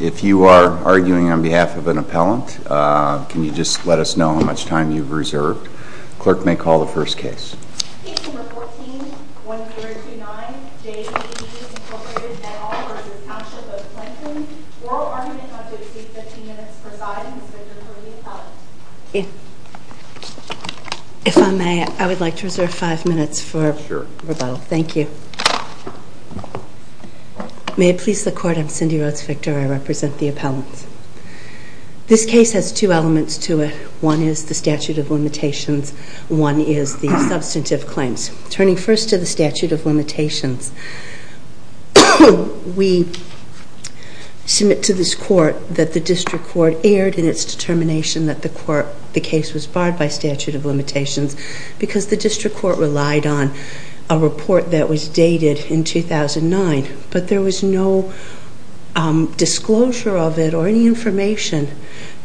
If you are arguing on behalf of an appellant, can you just let us know how much time you've reserved? The clerk may call the first case. Case number 14-1029, J.D.D. v. Township of Clinton. Rural argument on District 15 minutes presiding. Ms. Victor, will you be the appellant? If I may, I would like to reserve five minutes for rebuttal. Thank you. May it please the Court, I'm Cindy Rhodes-Victor. I represent the appellants. This case has two elements to it. One is the statute of limitations. One is the substantive claims. Turning first to the statute of limitations, we submit to this Court that the District Court erred in its determination that the case was barred by statute of limitations because the District Court relied on a report that was dated in 2009. But there was no disclosure of it or any information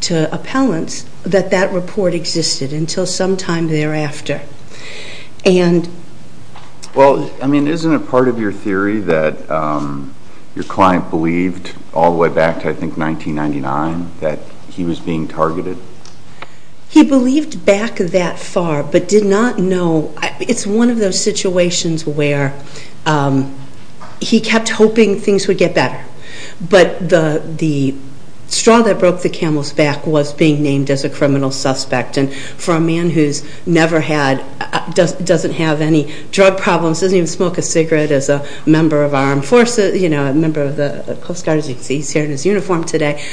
to appellants that that report existed until sometime thereafter. Isn't it part of your theory that your client believed all the way back to, I think, 1999 that he was being targeted? He believed back that far but did not know. It's one of those situations where he kept hoping things would get better. But the straw that broke the camel's back was being named as a criminal suspect. And for a man who's never had, doesn't have any drug problems, doesn't even smoke a cigarette as a member of our armed forces, a member of the Coast Guard, as you can see, he's here in his uniform today.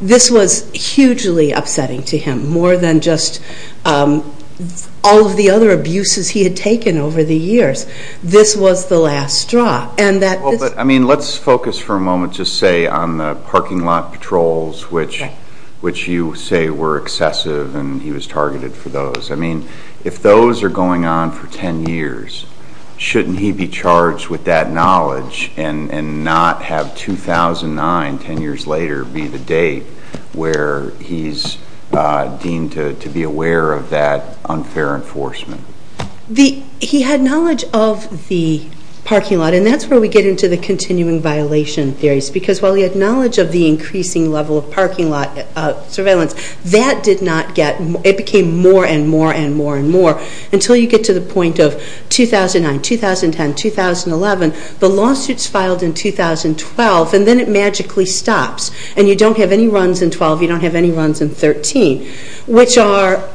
This was hugely upsetting to him, more than just all of the other abuses he had taken over the years. This was the last straw. Let's focus for a moment, just say, on the parking lot patrols, which you say were excessive and he was targeted for those. I mean, if those are going on for 10 years, shouldn't he be charged with that knowledge and not have 2009, 10 years later, be the date where he's deemed to be aware of that unfair enforcement? He had knowledge of the parking lot, and that's where we get into the continuing violation theories. Because while he had knowledge of the increasing level of parking lot surveillance, that did not get, it became more and more and more and more. Until you get to the point of 2009, 2010, 2011, the lawsuits filed in 2012, and then it magically stops. And you don't have any runs in 12, you don't have any runs in 13. Which are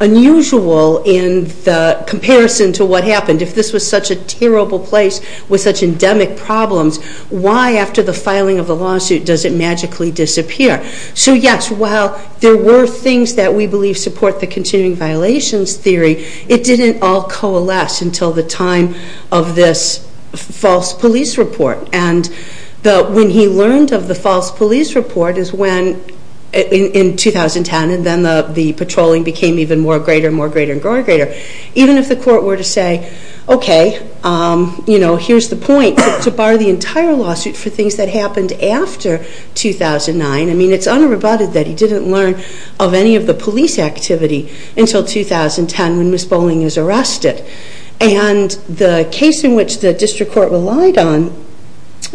unusual in the comparison to what happened. If this was such a terrible place, with such endemic problems, why after the filing of the lawsuit does it magically disappear? So yes, while there were things that we believe support the continuing violations theory, it didn't all coalesce until the time of this false police report. And when he learned of the false police report is when, in 2010, and then the patrolling became even more greater and more greater and greater. Even if the court were to say, okay, you know, here's the point to bar the entire lawsuit for things that happened after 2009. I mean, it's unrebutted that he didn't learn of any of the police activity until 2010 when Ms. Bolling was arrested. And the case in which the district court relied on,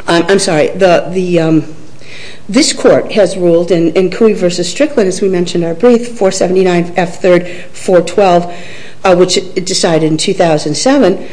I'm sorry, this court has ruled in Cooey v. Strickland, as we mentioned in our brief, 479 F. 3rd 412, which decided in 2007,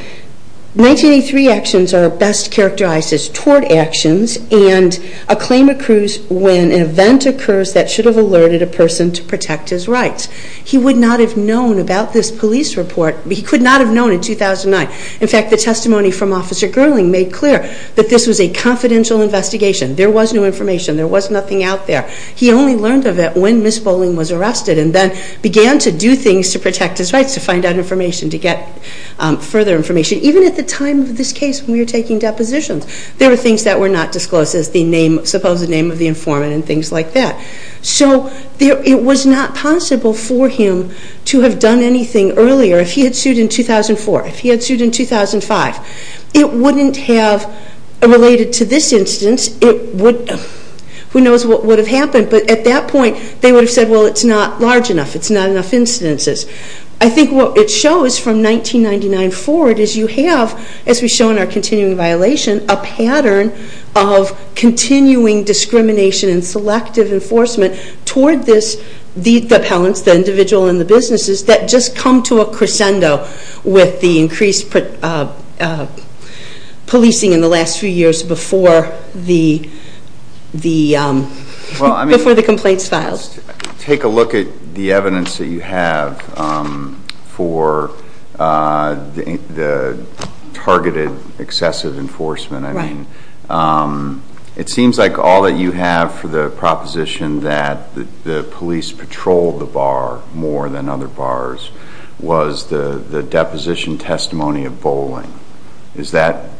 1983 actions are best characterized as tort actions and a claim accrues when an event occurs that should have alerted a person to protect his rights. He would not have known about this police report. He could not have known in 2009. In fact, the testimony from Officer Gerling made clear that this was a confidential investigation. There was no information. There was nothing out there. He only learned of it when Ms. Bolling was arrested and then began to do things to protect his rights, to find out information, to get further information, even at the time of this case when we were taking depositions. There were things that were not disclosed, the supposed name of the informant and things like that. So it was not possible for him to have done anything earlier. If he had sued in 2004, if he had sued in 2005, it wouldn't have related to this instance. Who knows what would have happened, but at that point they would have said, well, it's not large enough. It's not enough instances. I think what it shows from 1999 forward is you have, as we show in our continuing violation, a pattern of continuing discrimination and selective enforcement toward the appellants, the individual and the businesses that just come to a crescendo with the increased policing in the last few years before the complaints filed. Let's take a look at the evidence that you have for the targeted excessive enforcement. It seems like all that you have for the proposition that the police patrolled the bar more than other bars was the deposition testimony of Bolling. Is that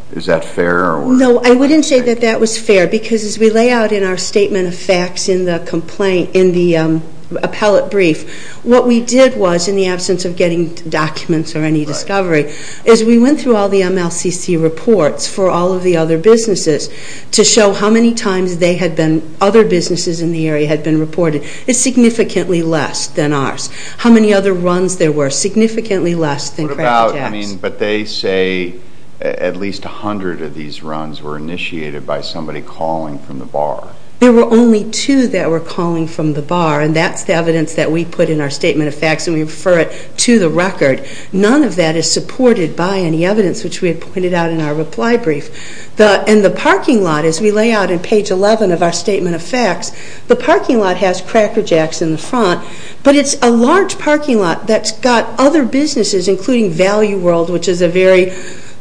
fair? No, I wouldn't say that that was fair because as we lay out in our statement of facts in the appellate brief, what we did was, in the absence of getting documents or any discovery, is we went through all the MLCC reports for all of the other businesses to show how many times other businesses in the area had been reported. It's significantly less than ours. How many other runs there were? Significantly less than Crescent Jacks. But they say at least 100 of these runs were initiated by somebody calling from the bar. There were only two that were calling from the bar, and that's the evidence that we put in our statement of facts and we refer it to the record. None of that is supported by any evidence, which we had pointed out in our reply brief. In the parking lot, as we lay out in page 11 of our statement of facts, the parking lot has Cracker Jacks in the front, but it's a large parking lot that's got other businesses, including Value World, which is a very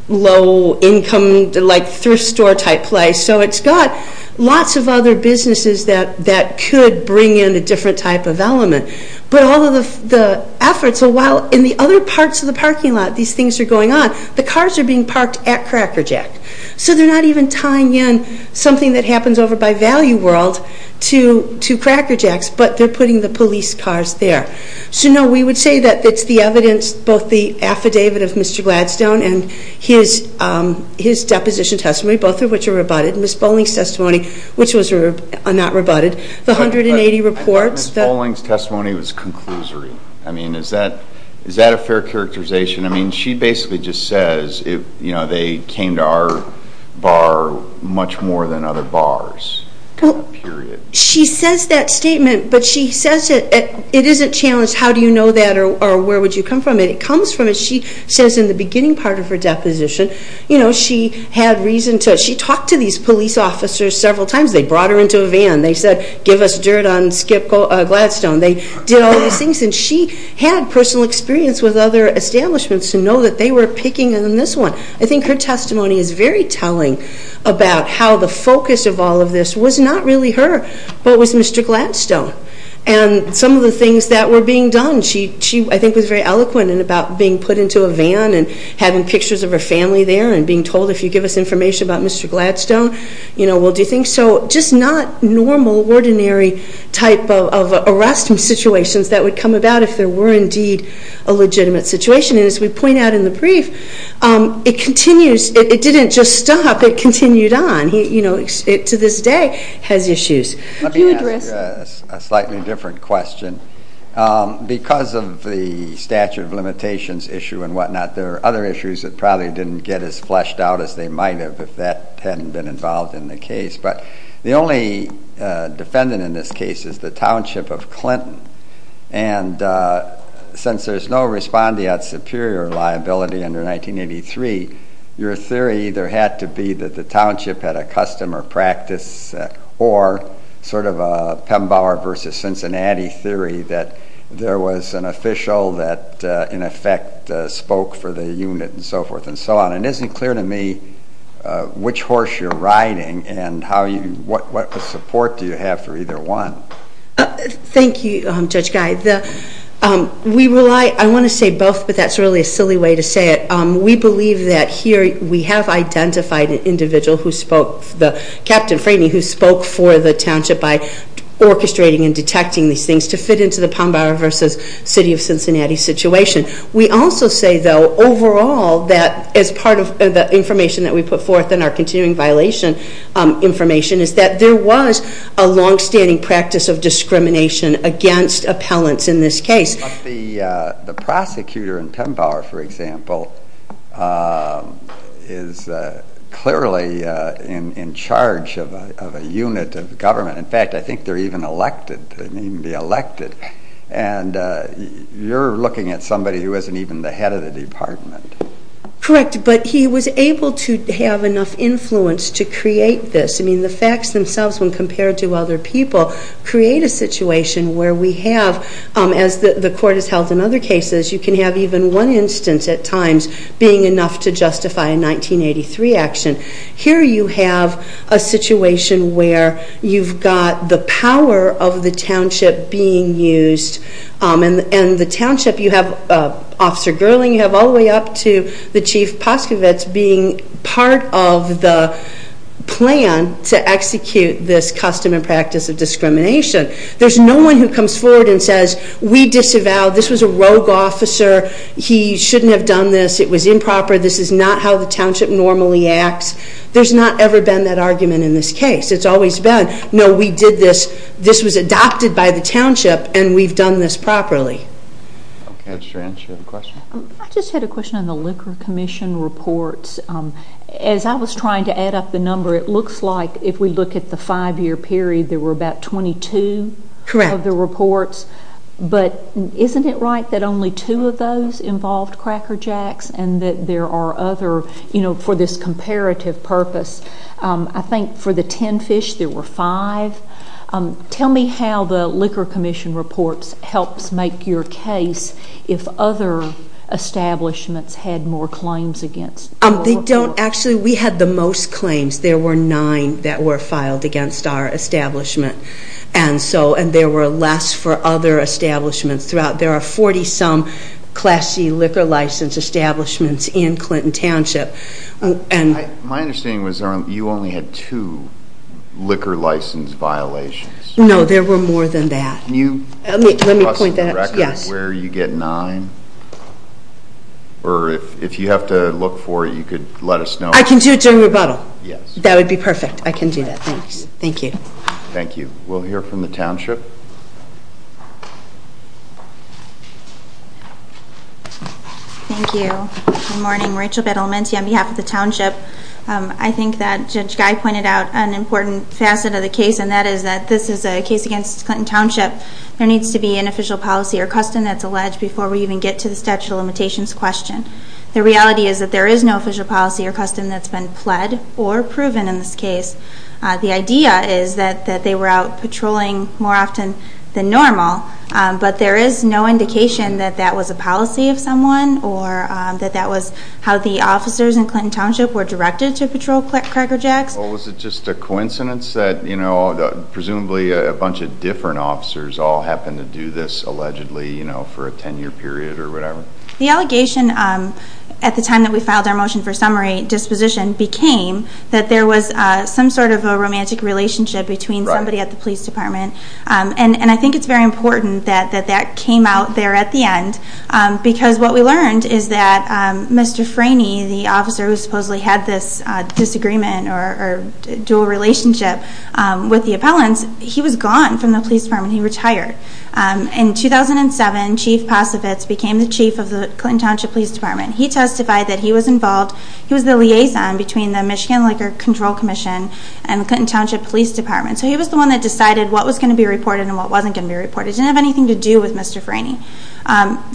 low income thrift store type place. So it's got lots of other businesses that could bring in a different type of element. But all of the efforts, while in the other parts of the parking lot these things are going on, the cars are being parked at Cracker Jack. So they're not even tying in something that happens over by Value World to Cracker Jacks, but they're putting the police cars there. So, no, we would say that it's the evidence, both the affidavit of Mr. Gladstone and his deposition testimony, both of which are rebutted, and Ms. Bolling's testimony, which was not rebutted, the 180 reports. I thought Ms. Bolling's testimony was conclusory. I mean, is that a fair characterization? I mean, she basically just says they came to our bar much more than other bars, period. She says that statement, but she says it isn't challenged how do you know that or where would you come from. It comes from, as she says in the beginning part of her deposition, she had reason to, she talked to these police officers several times. They brought her into a van. They said, give us dirt on Skip Gladstone. They did all these things, and she had personal experience with other establishments to know that they were picking on this one. I think her testimony is very telling about how the focus of all of this was not really her, but it was Mr. Gladstone and some of the things that were being done. She, I think, was very eloquent about being put into a van and having pictures of her family there and being told, if you give us information about Mr. Gladstone, we'll do things. So just not normal, ordinary type of arresting situations that would come about if there were indeed a legitimate situation. And as we point out in the brief, it continues. It didn't just stop. It continued on. It, to this day, has issues. Let me ask you a slightly different question. Because of the statute of limitations issue and whatnot, there are other issues that probably didn't get as fleshed out as they might have if that hadn't been involved in the case. But the only defendant in this case is the township of Clinton. And since there's no respondeat superior liability under 1983, your theory either had to be that the township had a customer practice or sort of a Pembauer versus Cincinnati theory that there was an official that in effect spoke for the unit and so forth and so on. It isn't clear to me which horse you're riding and what support do you have for either one. Thank you, Judge Guy. We rely, I want to say both, but that's really a silly way to say it. We believe that here we have identified an individual who spoke, Captain Franey, who spoke for the township by orchestrating and detecting these things to fit into the Pembauer versus city of Cincinnati situation. We also say, though, overall that as part of the information that we put forth in our continuing violation information is that there was a longstanding practice of discrimination against appellants in this case. But the prosecutor in Pembauer, for example, is clearly in charge of a unit of government. In fact, I think they're even elected. They may even be elected. And you're looking at somebody who isn't even the head of the department. Correct, but he was able to have enough influence to create this. I mean, the facts themselves when compared to other people create a situation where we have, as the court has held in other cases, you can have even one instance at times being enough to justify a 1983 action. Here you have a situation where you've got the power of the township being used and the township, you have Officer Gerling, you have all the way up to the Chief Poscovitz being part of the plan to execute this custom and practice of discrimination. There's no one who comes forward and says, we disavowed, this was a rogue officer, he shouldn't have done this, it was improper, this is not how the township normally acts. There's not ever been that argument in this case. It's always been, no, we did this, this was adopted by the township and we've done this properly. I just had a question on the Liquor Commission reports. As I was trying to add up the number, it looks like if we look at the five-year period, there were about 22 of the reports. But isn't it right that only two of those involved Cracker Jacks and that there are other, you know, for this comparative purpose, I think for the 10 fish there were five. Tell me how the Liquor Commission reports helps make your case if other establishments had more claims against you. Actually, we had the most claims. There were nine that were filed against our establishment. And there were less for other establishments. There are 40-some Class C liquor license establishments in Clinton Township. My understanding was you only had two liquor license violations. No, there were more than that. Can you give us a record where you get nine? Or if you have to look for it, you could let us know. I can do it during rebuttal. Yes. That would be perfect. I can do that. Thanks. Thank you. Thank you. We'll hear from the township. Thank you. Good morning. Rachel Bedelmenti on behalf of the township. I think that Judge Guy pointed out an important facet of the case, and that is that this is a case against Clinton Township. There needs to be an official policy or custom that's alleged before we even get to the statute of limitations question. The reality is that there is no official policy or custom that's been pled or proven in this case. The idea is that they were out patrolling more often than normal, but there is no indication that that was a policy of someone or that that was how the officers in Clinton Township were directed to patrol Cracker Jacks. Or was it just a coincidence that, you know, presumably a bunch of different officers all happened to do this, allegedly, you know, for a 10-year period or whatever? The allegation at the time that we filed our motion for summary disposition became that there was some sort of a romantic relationship between somebody at the police department. And I think it's very important that that came out there at the end because what we learned is that Mr. Franey, the officer who supposedly had this disagreement or dual relationship with the appellants, he was gone from the police department. He retired. In 2007, Chief Possevitz became the chief of the Clinton Township Police Department. He testified that he was involved. He was the liaison between the Michigan Laker Control Commission and the Clinton Township Police Department. So he was the one that decided what was going to be reported and what wasn't going to be reported. It didn't have anything to do with Mr. Franey.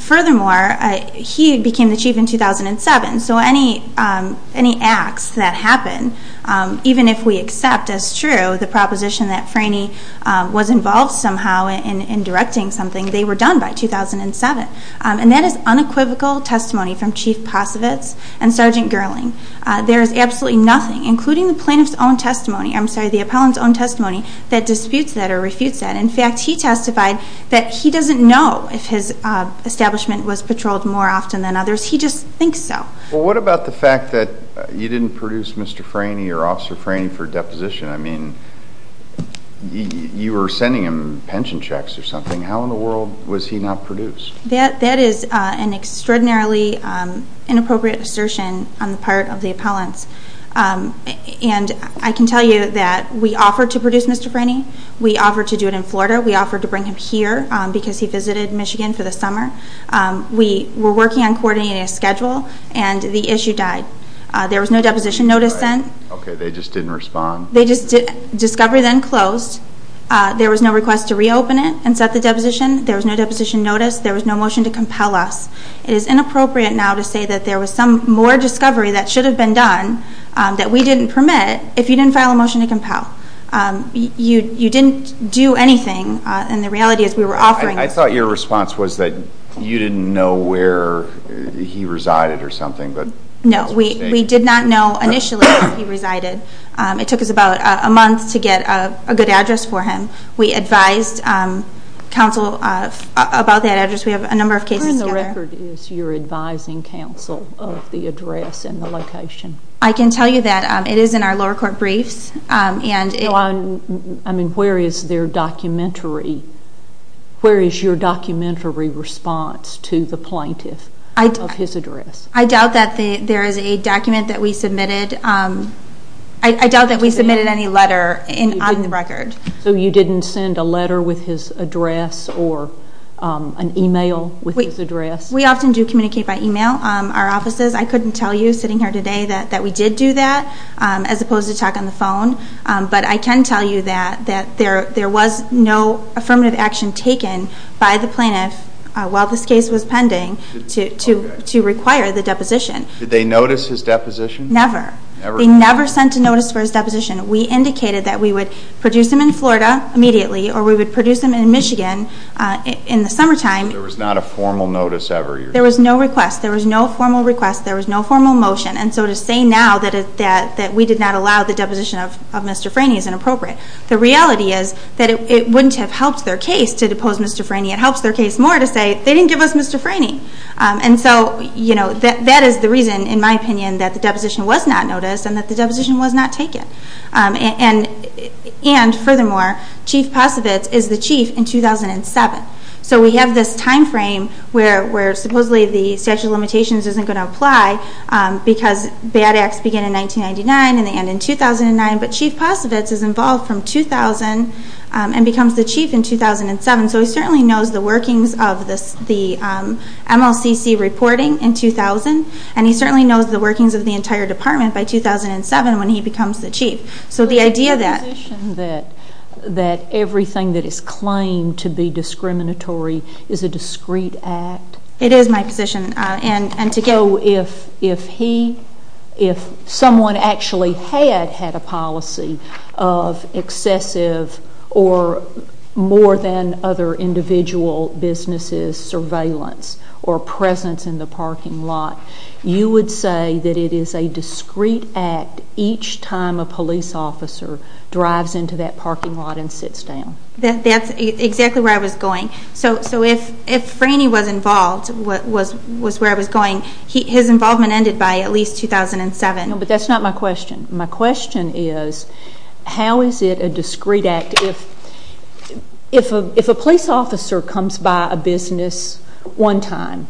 Furthermore, he became the chief in 2007. So any acts that happen, even if we accept as true the proposition that Franey was involved somehow in directing something, they were done by 2007. And that is unequivocal testimony from Chief Possevitz and Sergeant Gerling. There is absolutely nothing, including the plaintiff's own testimony, I'm sorry, the appellant's own testimony, that disputes that or refutes that. In fact, he testified that he doesn't know if his establishment was patrolled more often than others. He just thinks so. Well, what about the fact that you didn't produce Mr. Franey or Officer Franey for deposition? I mean, you were sending him pension checks or something. How in the world was he not produced? That is an extraordinarily inappropriate assertion on the part of the appellants. And I can tell you that we offered to produce Mr. Franey. We offered to do it in Florida. We offered to bring him here because he visited Michigan for the summer. We were working on coordinating a schedule, and the issue died. There was no deposition notice sent. Okay, they just didn't respond. Discovery then closed. There was no request to reopen it and set the deposition. There was no deposition notice. There was no motion to compel us. It is inappropriate now to say that there was some more discovery that should have been done that we didn't permit if you didn't file a motion to compel. You didn't do anything, and the reality is we were offering. I thought your response was that you didn't know where he resided or something. No, we did not know initially where he resided. It took us about a month to get a good address for him. We advised counsel about that address. We have a number of cases together. Where in the record is your advising counsel of the address and the location? I can tell you that it is in our lower court briefs. Where is your documentary response to the plaintiff of his address? I doubt that there is a document that we submitted. I doubt that we submitted any letter on the record. So you didn't send a letter with his address or an e-mail with his address? We often do communicate by e-mail. Our offices, I couldn't tell you sitting here today that we did do that as opposed to talking on the phone. But I can tell you that there was no affirmative action taken by the plaintiff while this case was pending to require the deposition. Did they notice his deposition? Never. They never sent a notice for his deposition. We indicated that we would produce him in Florida immediately or we would produce him in Michigan in the summertime. There was not a formal notice ever? There was no request. There was no formal request. There was no formal motion. And so to say now that we did not allow the deposition of Mr. Franey is inappropriate. The reality is that it wouldn't have helped their case to depose Mr. Franey. It helps their case more to say they didn't give us Mr. Franey. And so that is the reason, in my opinion, that the deposition was not noticed and that the deposition was not taken. And furthermore, Chief Posovitz is the chief in 2007. So we have this time frame where supposedly the statute of limitations isn't going to apply because bad acts begin in 1999 and they end in 2009. But Chief Posovitz is involved from 2000 and becomes the chief in 2007. So he certainly knows the workings of the MLCC reporting in 2000, and he certainly knows the workings of the entire department by 2007 when he becomes the chief. Is it your position that everything that is claimed to be discriminatory is a discreet act? It is my position. So if someone actually had had a policy of excessive or more than other individual businesses' surveillance or presence in the parking lot, you would say that it is a discreet act each time a police officer drives into that parking lot and sits down? That's exactly where I was going. So if Franey was involved, was where I was going, his involvement ended by at least 2007. No, but that's not my question. My question is how is it a discreet act if a police officer comes by a business one time?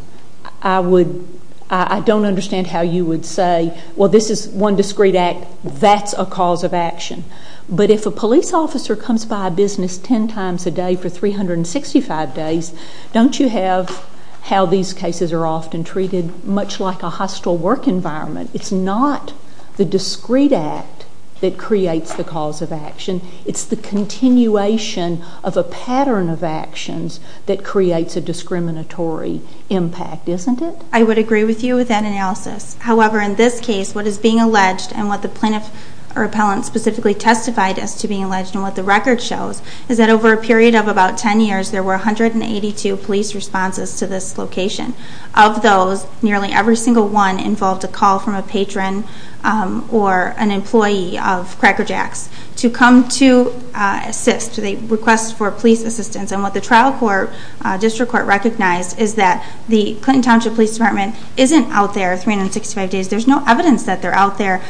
I don't understand how you would say, well, this is one discreet act, that's a cause of action. But if a police officer comes by a business ten times a day for 365 days, don't you have how these cases are often treated much like a hostile work environment? It's not the discreet act that creates the cause of action. It's the continuation of a pattern of actions that creates a discriminatory impact, isn't it? I would agree with you with that analysis. However, in this case, what is being alleged and what the plaintiff or appellant specifically testified as to being alleged and what the record shows is that over a period of about ten years, there were 182 police responses to this location. Of those, nearly every single one involved a call from a patron or an employee of Cracker Jack's to come to assist, to request for police assistance. And what the trial district court recognized is that the Clinton Township Police Department isn't out there 365 days. There's no evidence that they're out there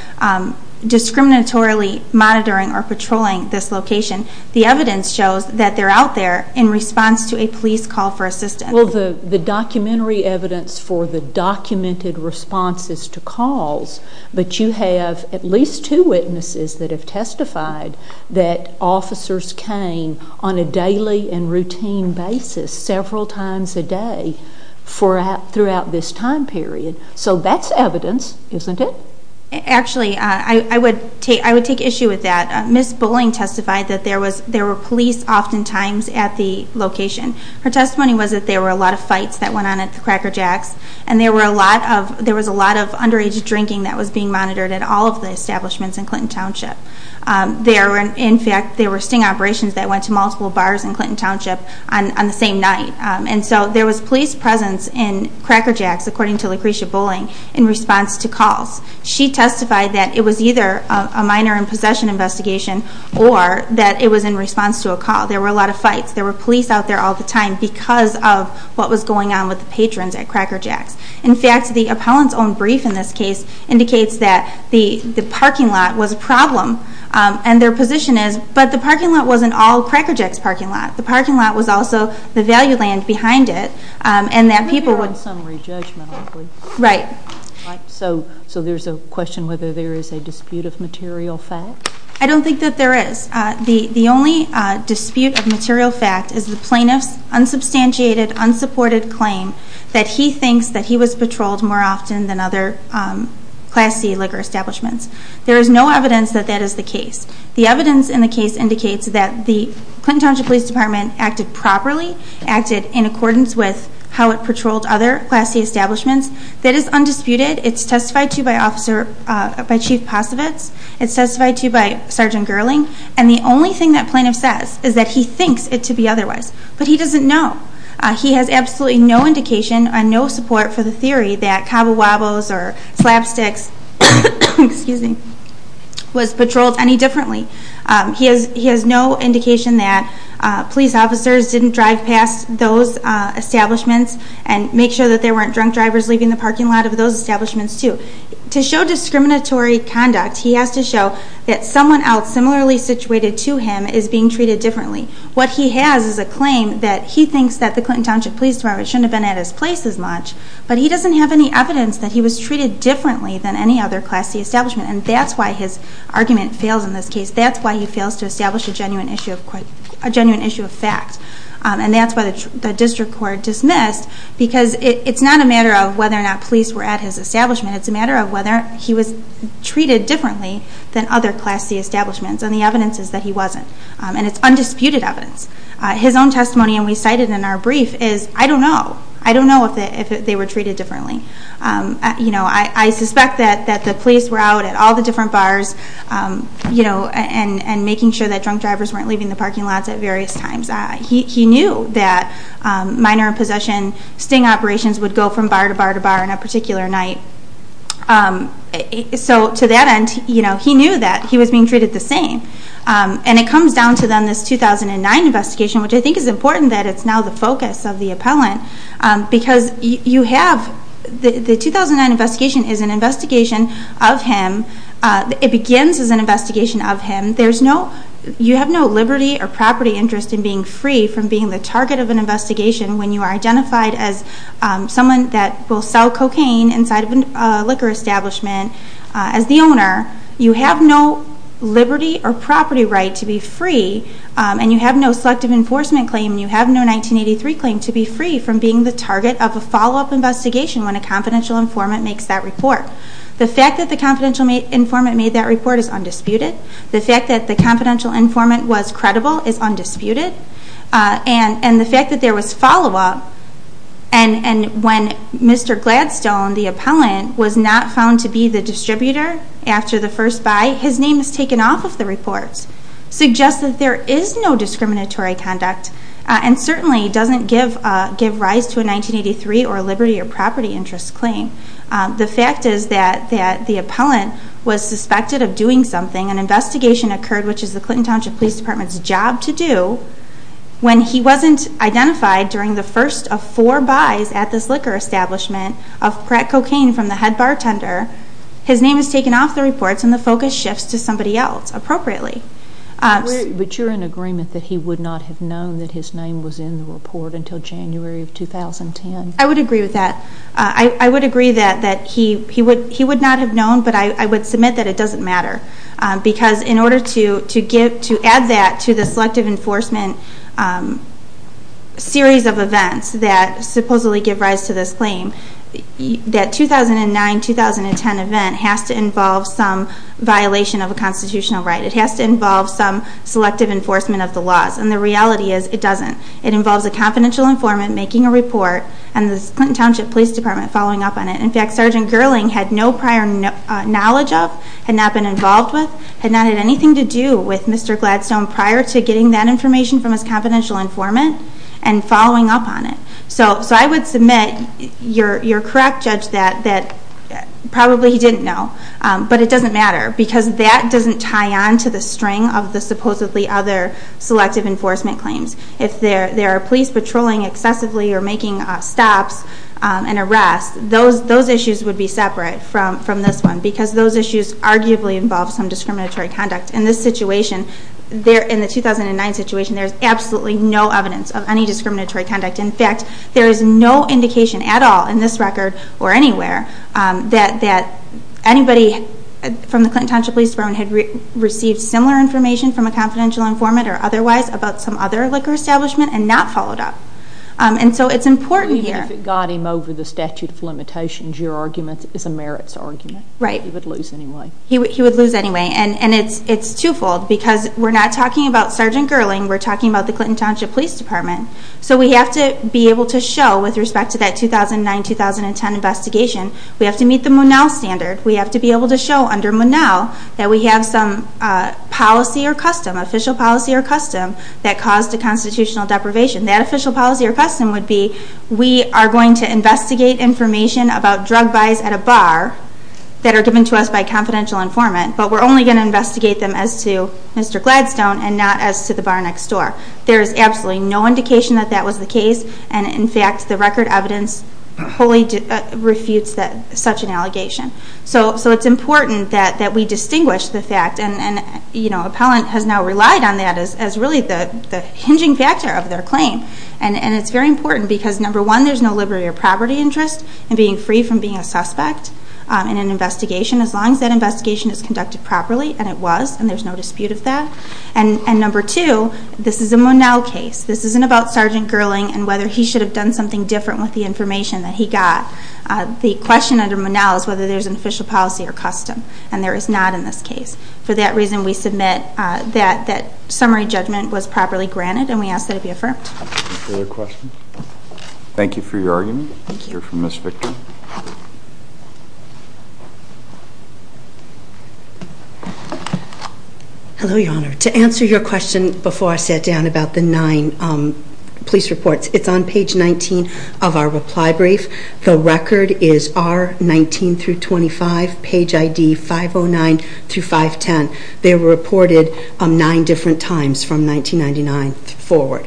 discriminatorily monitoring or patrolling this location. The evidence shows that they're out there in response to a police call for assistance. Well, the documentary evidence for the documented response is to calls, but you have at least two witnesses that have testified that officers came on a daily and routine basis several times a day throughout this time period. So that's evidence, isn't it? Actually, I would take issue with that. Ms. Bowling testified that there were police oftentimes at the location. Her testimony was that there were a lot of fights that went on at the Cracker Jack's, and there was a lot of underage drinking that was being monitored at all of the establishments in Clinton Township. In fact, there were sting operations that went to multiple bars in Clinton Township on the same night. And so there was police presence in Cracker Jack's, according to Lucretia Bowling, in response to calls. She testified that it was either a minor in possession investigation or that it was in response to a call. There were a lot of fights. There were police out there all the time because of what was going on with the patrons at Cracker Jack's. In fact, the appellant's own brief in this case indicates that the parking lot was a problem, and their position is, but the parking lot wasn't all Cracker Jack's parking lot. The parking lot was also the value land behind it, and that people would ‑‑ Maybe there was some re-judgment, luckily. Right. So there's a question whether there is a dispute of material fact? I don't think that there is. The only dispute of material fact is the plaintiff's unsubstantiated, unsupported claim that he thinks that he was patrolled more often than other Class C liquor establishments. There is no evidence that that is the case. The evidence in the case indicates that the Clinton Township Police Department acted properly, acted in accordance with how it patrolled other Class C establishments. That is undisputed. It's testified to by Chief Posovitz. It's testified to by Sergeant Gerling. And the only thing that plaintiff says is that he thinks it to be otherwise, but he doesn't know. He has absolutely no indication and no support for the theory that Cabo Wabos or Slapsticks was patrolled any differently. He has no indication that police officers didn't drive past those establishments and make sure that there weren't drunk drivers leaving the parking lot of those establishments, too. To show discriminatory conduct, he has to show that someone else similarly situated to him is being treated differently. What he has is a claim that he thinks that the Clinton Township Police Department shouldn't have been at his place as much, but he doesn't have any evidence that he was treated differently than any other Class C establishment. And that's why his argument fails in this case. That's why he fails to establish a genuine issue of fact. And that's why the district court dismissed, because it's not a matter of whether or not police were at his establishment. It's a matter of whether he was treated differently than other Class C establishments. And the evidence is that he wasn't. And it's undisputed evidence. His own testimony, and we cited in our brief, is, I don't know. I don't know if they were treated differently. I suspect that the police were out at all the different bars and making sure that drunk drivers weren't leaving the parking lots at various times. He knew that minor possession sting operations would go from bar to bar to bar on a particular night. So to that end, he knew that he was being treated the same. And it comes down to then this 2009 investigation, which I think is important that it's now the focus of the appellant, because the 2009 investigation is an investigation of him. It begins as an investigation of him. You have no liberty or property interest in being free from being the target of an investigation when you are identified as someone that will sell cocaine inside of a liquor establishment as the owner. You have no liberty or property right to be free, and you have no selective enforcement claim, and you have no 1983 claim to be free from being the target of a follow-up investigation when a confidential informant makes that report. The fact that the confidential informant made that report is undisputed. The fact that the confidential informant was credible is undisputed. And the fact that there was follow-up, and when Mr. Gladstone, the appellant, was not found to be the distributor after the first buy, his name is taken off of the report, suggests that there is no discriminatory conduct, and certainly doesn't give rise to a 1983 or liberty or property interest claim. The fact is that the appellant was suspected of doing something. An investigation occurred, which is the Clinton Township Police Department's job to do, when he wasn't identified during the first of four buys at this liquor establishment of crack cocaine from the head bartender. His name is taken off the reports, and the focus shifts to somebody else, appropriately. But you're in agreement that he would not have known that his name was in the report until January of 2010? I would agree with that. I would agree that he would not have known, but I would submit that it doesn't matter. Because in order to add that to the selective enforcement series of events that supposedly give rise to this claim, that 2009-2010 event has to involve some violation of a constitutional right. It has to involve some selective enforcement of the laws. And the reality is, it doesn't. It involves a confidential informant making a report and the Clinton Township Police Department following up on it. In fact, Sergeant Gerling had no prior knowledge of, had not been involved with, had not had anything to do with Mr. Gladstone prior to getting that information from his confidential informant and following up on it. So I would submit you're correct, Judge, that probably he didn't know. But it doesn't matter, because that doesn't tie on to the string of the supposedly other selective enforcement claims. If there are police patrolling excessively or making stops and arrests, those issues would be separate from this one because those issues arguably involve some discriminatory conduct. In this situation, in the 2009 situation, there's absolutely no evidence of any discriminatory conduct. In fact, there is no indication at all in this record or anywhere that anybody from the Clinton Township Police Department had received similar information from a confidential informant or otherwise about some other liquor establishment and not followed up. And so it's important here. Even if it got him over the statute of limitations, your argument is a merits argument. Right. He would lose anyway. He would lose anyway. And it's twofold, because we're not talking about Sergeant Gerling. We're talking about the Clinton Township Police Department. So we have to be able to show, with respect to that 2009-2010 investigation, we have to meet the Munell standard. We have to be able to show under Munell that we have some policy or custom, official policy or custom, that caused a constitutional deprivation. That official policy or custom would be we are going to investigate information about drug buys at a bar that are given to us by a confidential informant, but we're only going to investigate them as to Mr. Gladstone and not as to the bar next door. There is absolutely no indication that that was the case, and, in fact, the record evidence wholly refutes such an allegation. So it's important that we distinguish the fact, and Appellant has now relied on that as really the hinging factor of their claim. And it's very important because, number one, there's no liberty or property interest in being free from being a suspect in an investigation, as long as that investigation is conducted properly, and it was, and there's no dispute of that. And number two, this is a Munell case. This isn't about Sergeant Gerling and whether he should have done something different with the information that he got. The question under Munell is whether there's an official policy or custom, and there is not in this case. For that reason, we submit that that summary judgment was properly granted, and we ask that it be affirmed. Any further questions? Thank you for your argument. Thank you. We'll hear from Ms. Victor. Hello, Your Honor. To answer your question before I sat down about the nine police reports, it's on page 19 of our reply brief. The record is R19-25, page ID 509-510. They were reported nine different times from 1999 forward,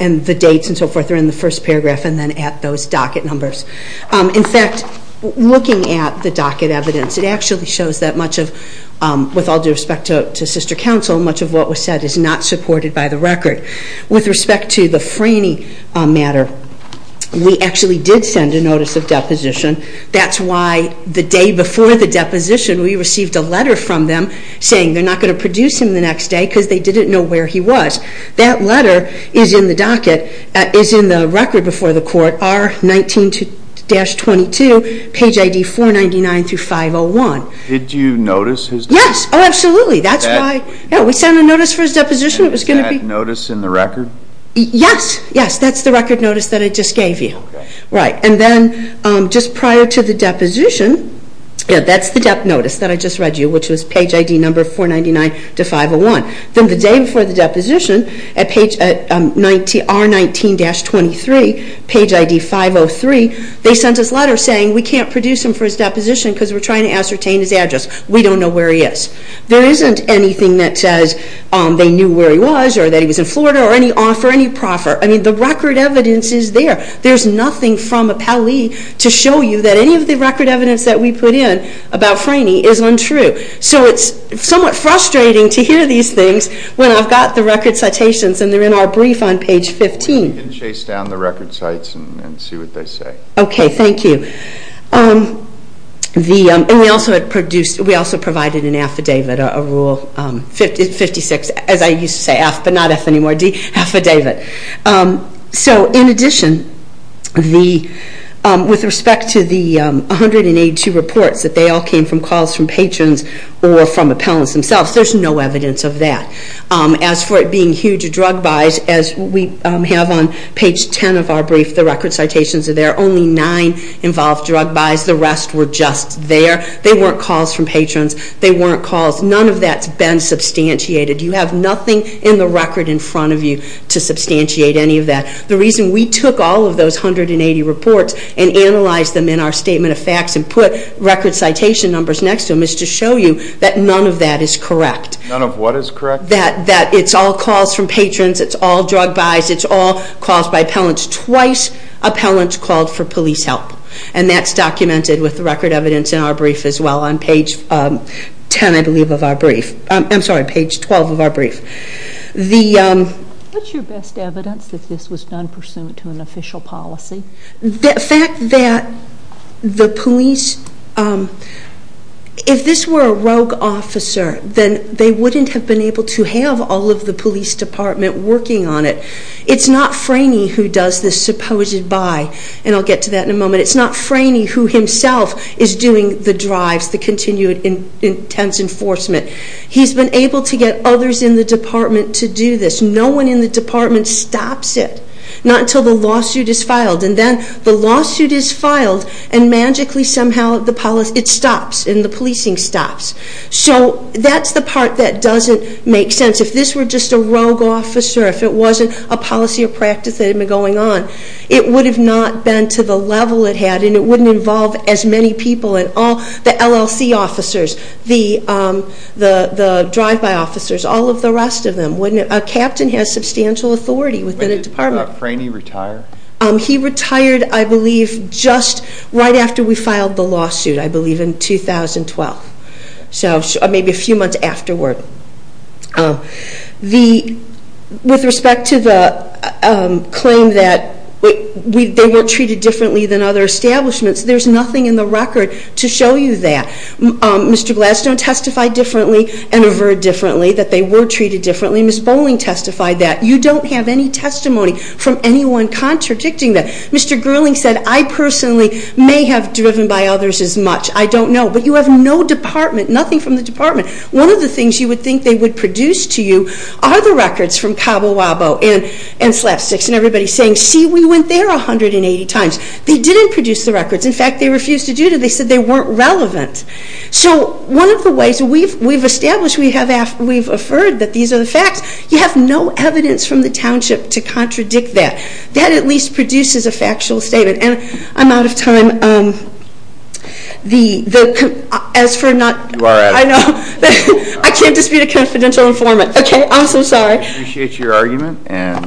and the dates and so forth are in the first paragraph and then at those docket numbers. In fact, looking at the docket evidence, it actually shows that much of, with all due respect to sister counsel, much of what was said is not supported by the record. With respect to the Franey matter, we actually did send a notice of deposition. That's why the day before the deposition, we received a letter from them saying they're not going to produce him the next day because they didn't know where he was. That letter is in the record before the court, R19-22, page ID 499-501. Did you notice his deposition? Yes, absolutely. We sent a notice for his deposition. Was that notice in the record? Yes, that's the record notice that I just gave you. Then just prior to the deposition, that's the notice that I just read you, which was page ID number 499-501. Then the day before the deposition, at R19-23, page ID 503, they sent us letters saying we can't produce him for his deposition because we're trying to ascertain his address. We don't know where he is. There isn't anything that says they knew where he was or that he was in Florida or any offer, any proffer. I mean, the record evidence is there. There's nothing from Appellee to show you that any of the record evidence that we put in about Franey is untrue. So it's somewhat frustrating to hear these things when I've got the record citations and they're in our brief on page 15. Well, we can chase down the record cites and see what they say. Okay, thank you. We also provided an affidavit, a Rule 56, as I used to say, but not F anymore, D, affidavit. So in addition, with respect to the 182 reports that they all came from calls from patrons or from appellants themselves, there's no evidence of that. As for it being huge drug buys, as we have on page 10 of our brief, the record citations are there, only nine involved drug buys. The rest were just there. They weren't calls from patrons. They weren't calls. None of that's been substantiated. You have nothing in the record in front of you to substantiate any of that. The reason we took all of those 180 reports and analyzed them in our statement of facts and put record citation numbers next to them is to show you that none of that is correct. None of what is correct? That it's all calls from patrons. It's all drug buys. It's all calls by appellants. Twice, appellants called for police help, and that's documented with the record evidence in our brief as well, on page 10, I believe, of our brief. I'm sorry, page 12 of our brief. What's your best evidence that this was done pursuant to an official policy? The fact that the police, if this were a rogue officer, then they wouldn't have been able to have all of the police department working on it. It's not Franey who does this supposed buy, and I'll get to that in a moment. It's not Franey who himself is doing the drives, the continued intense enforcement. He's been able to get others in the department to do this. No one in the department stops it, not until the lawsuit is filed, and then the lawsuit is filed, and magically somehow it stops, and the policing stops. So that's the part that doesn't make sense. If this were just a rogue officer, if it wasn't a policy or practice that had been going on, it would have not been to the level it had, and it wouldn't involve as many people, and all the LLC officers, the drive-by officers, all of the rest of them. A captain has substantial authority within a department. Did Franey retire? He retired, I believe, just right after we filed the lawsuit, I believe in 2012, so maybe a few months afterward. With respect to the claim that they were treated differently than other establishments, there's nothing in the record to show you that. Mr. Glass don't testify differently and aver differently, that they were treated differently. Ms. Bowling testified that. You don't have any testimony from anyone contradicting that. Mr. Gerling said, I personally may have driven by others as much. I don't know. But you have no department, nothing from the department. One of the things you would think they would produce to you are the records from Cabo Wabo and Slapsticks and everybody saying, see, we went there 180 times. They didn't produce the records. In fact, they refused to do it. They said they weren't relevant. So one of the ways we've established, we've affirmed that these are the facts, you have no evidence from the township to contradict that. That at least produces a factual statement. And I'm out of time. As for not – You are out of time. I know. I can't dispute a confidential informant. Okay, I'm so sorry. We appreciate your argument.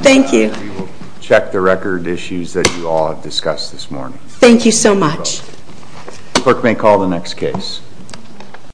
Thank you. And we will check the record issues that you all have discussed this morning. Thank you so much. Clerk may call the next case.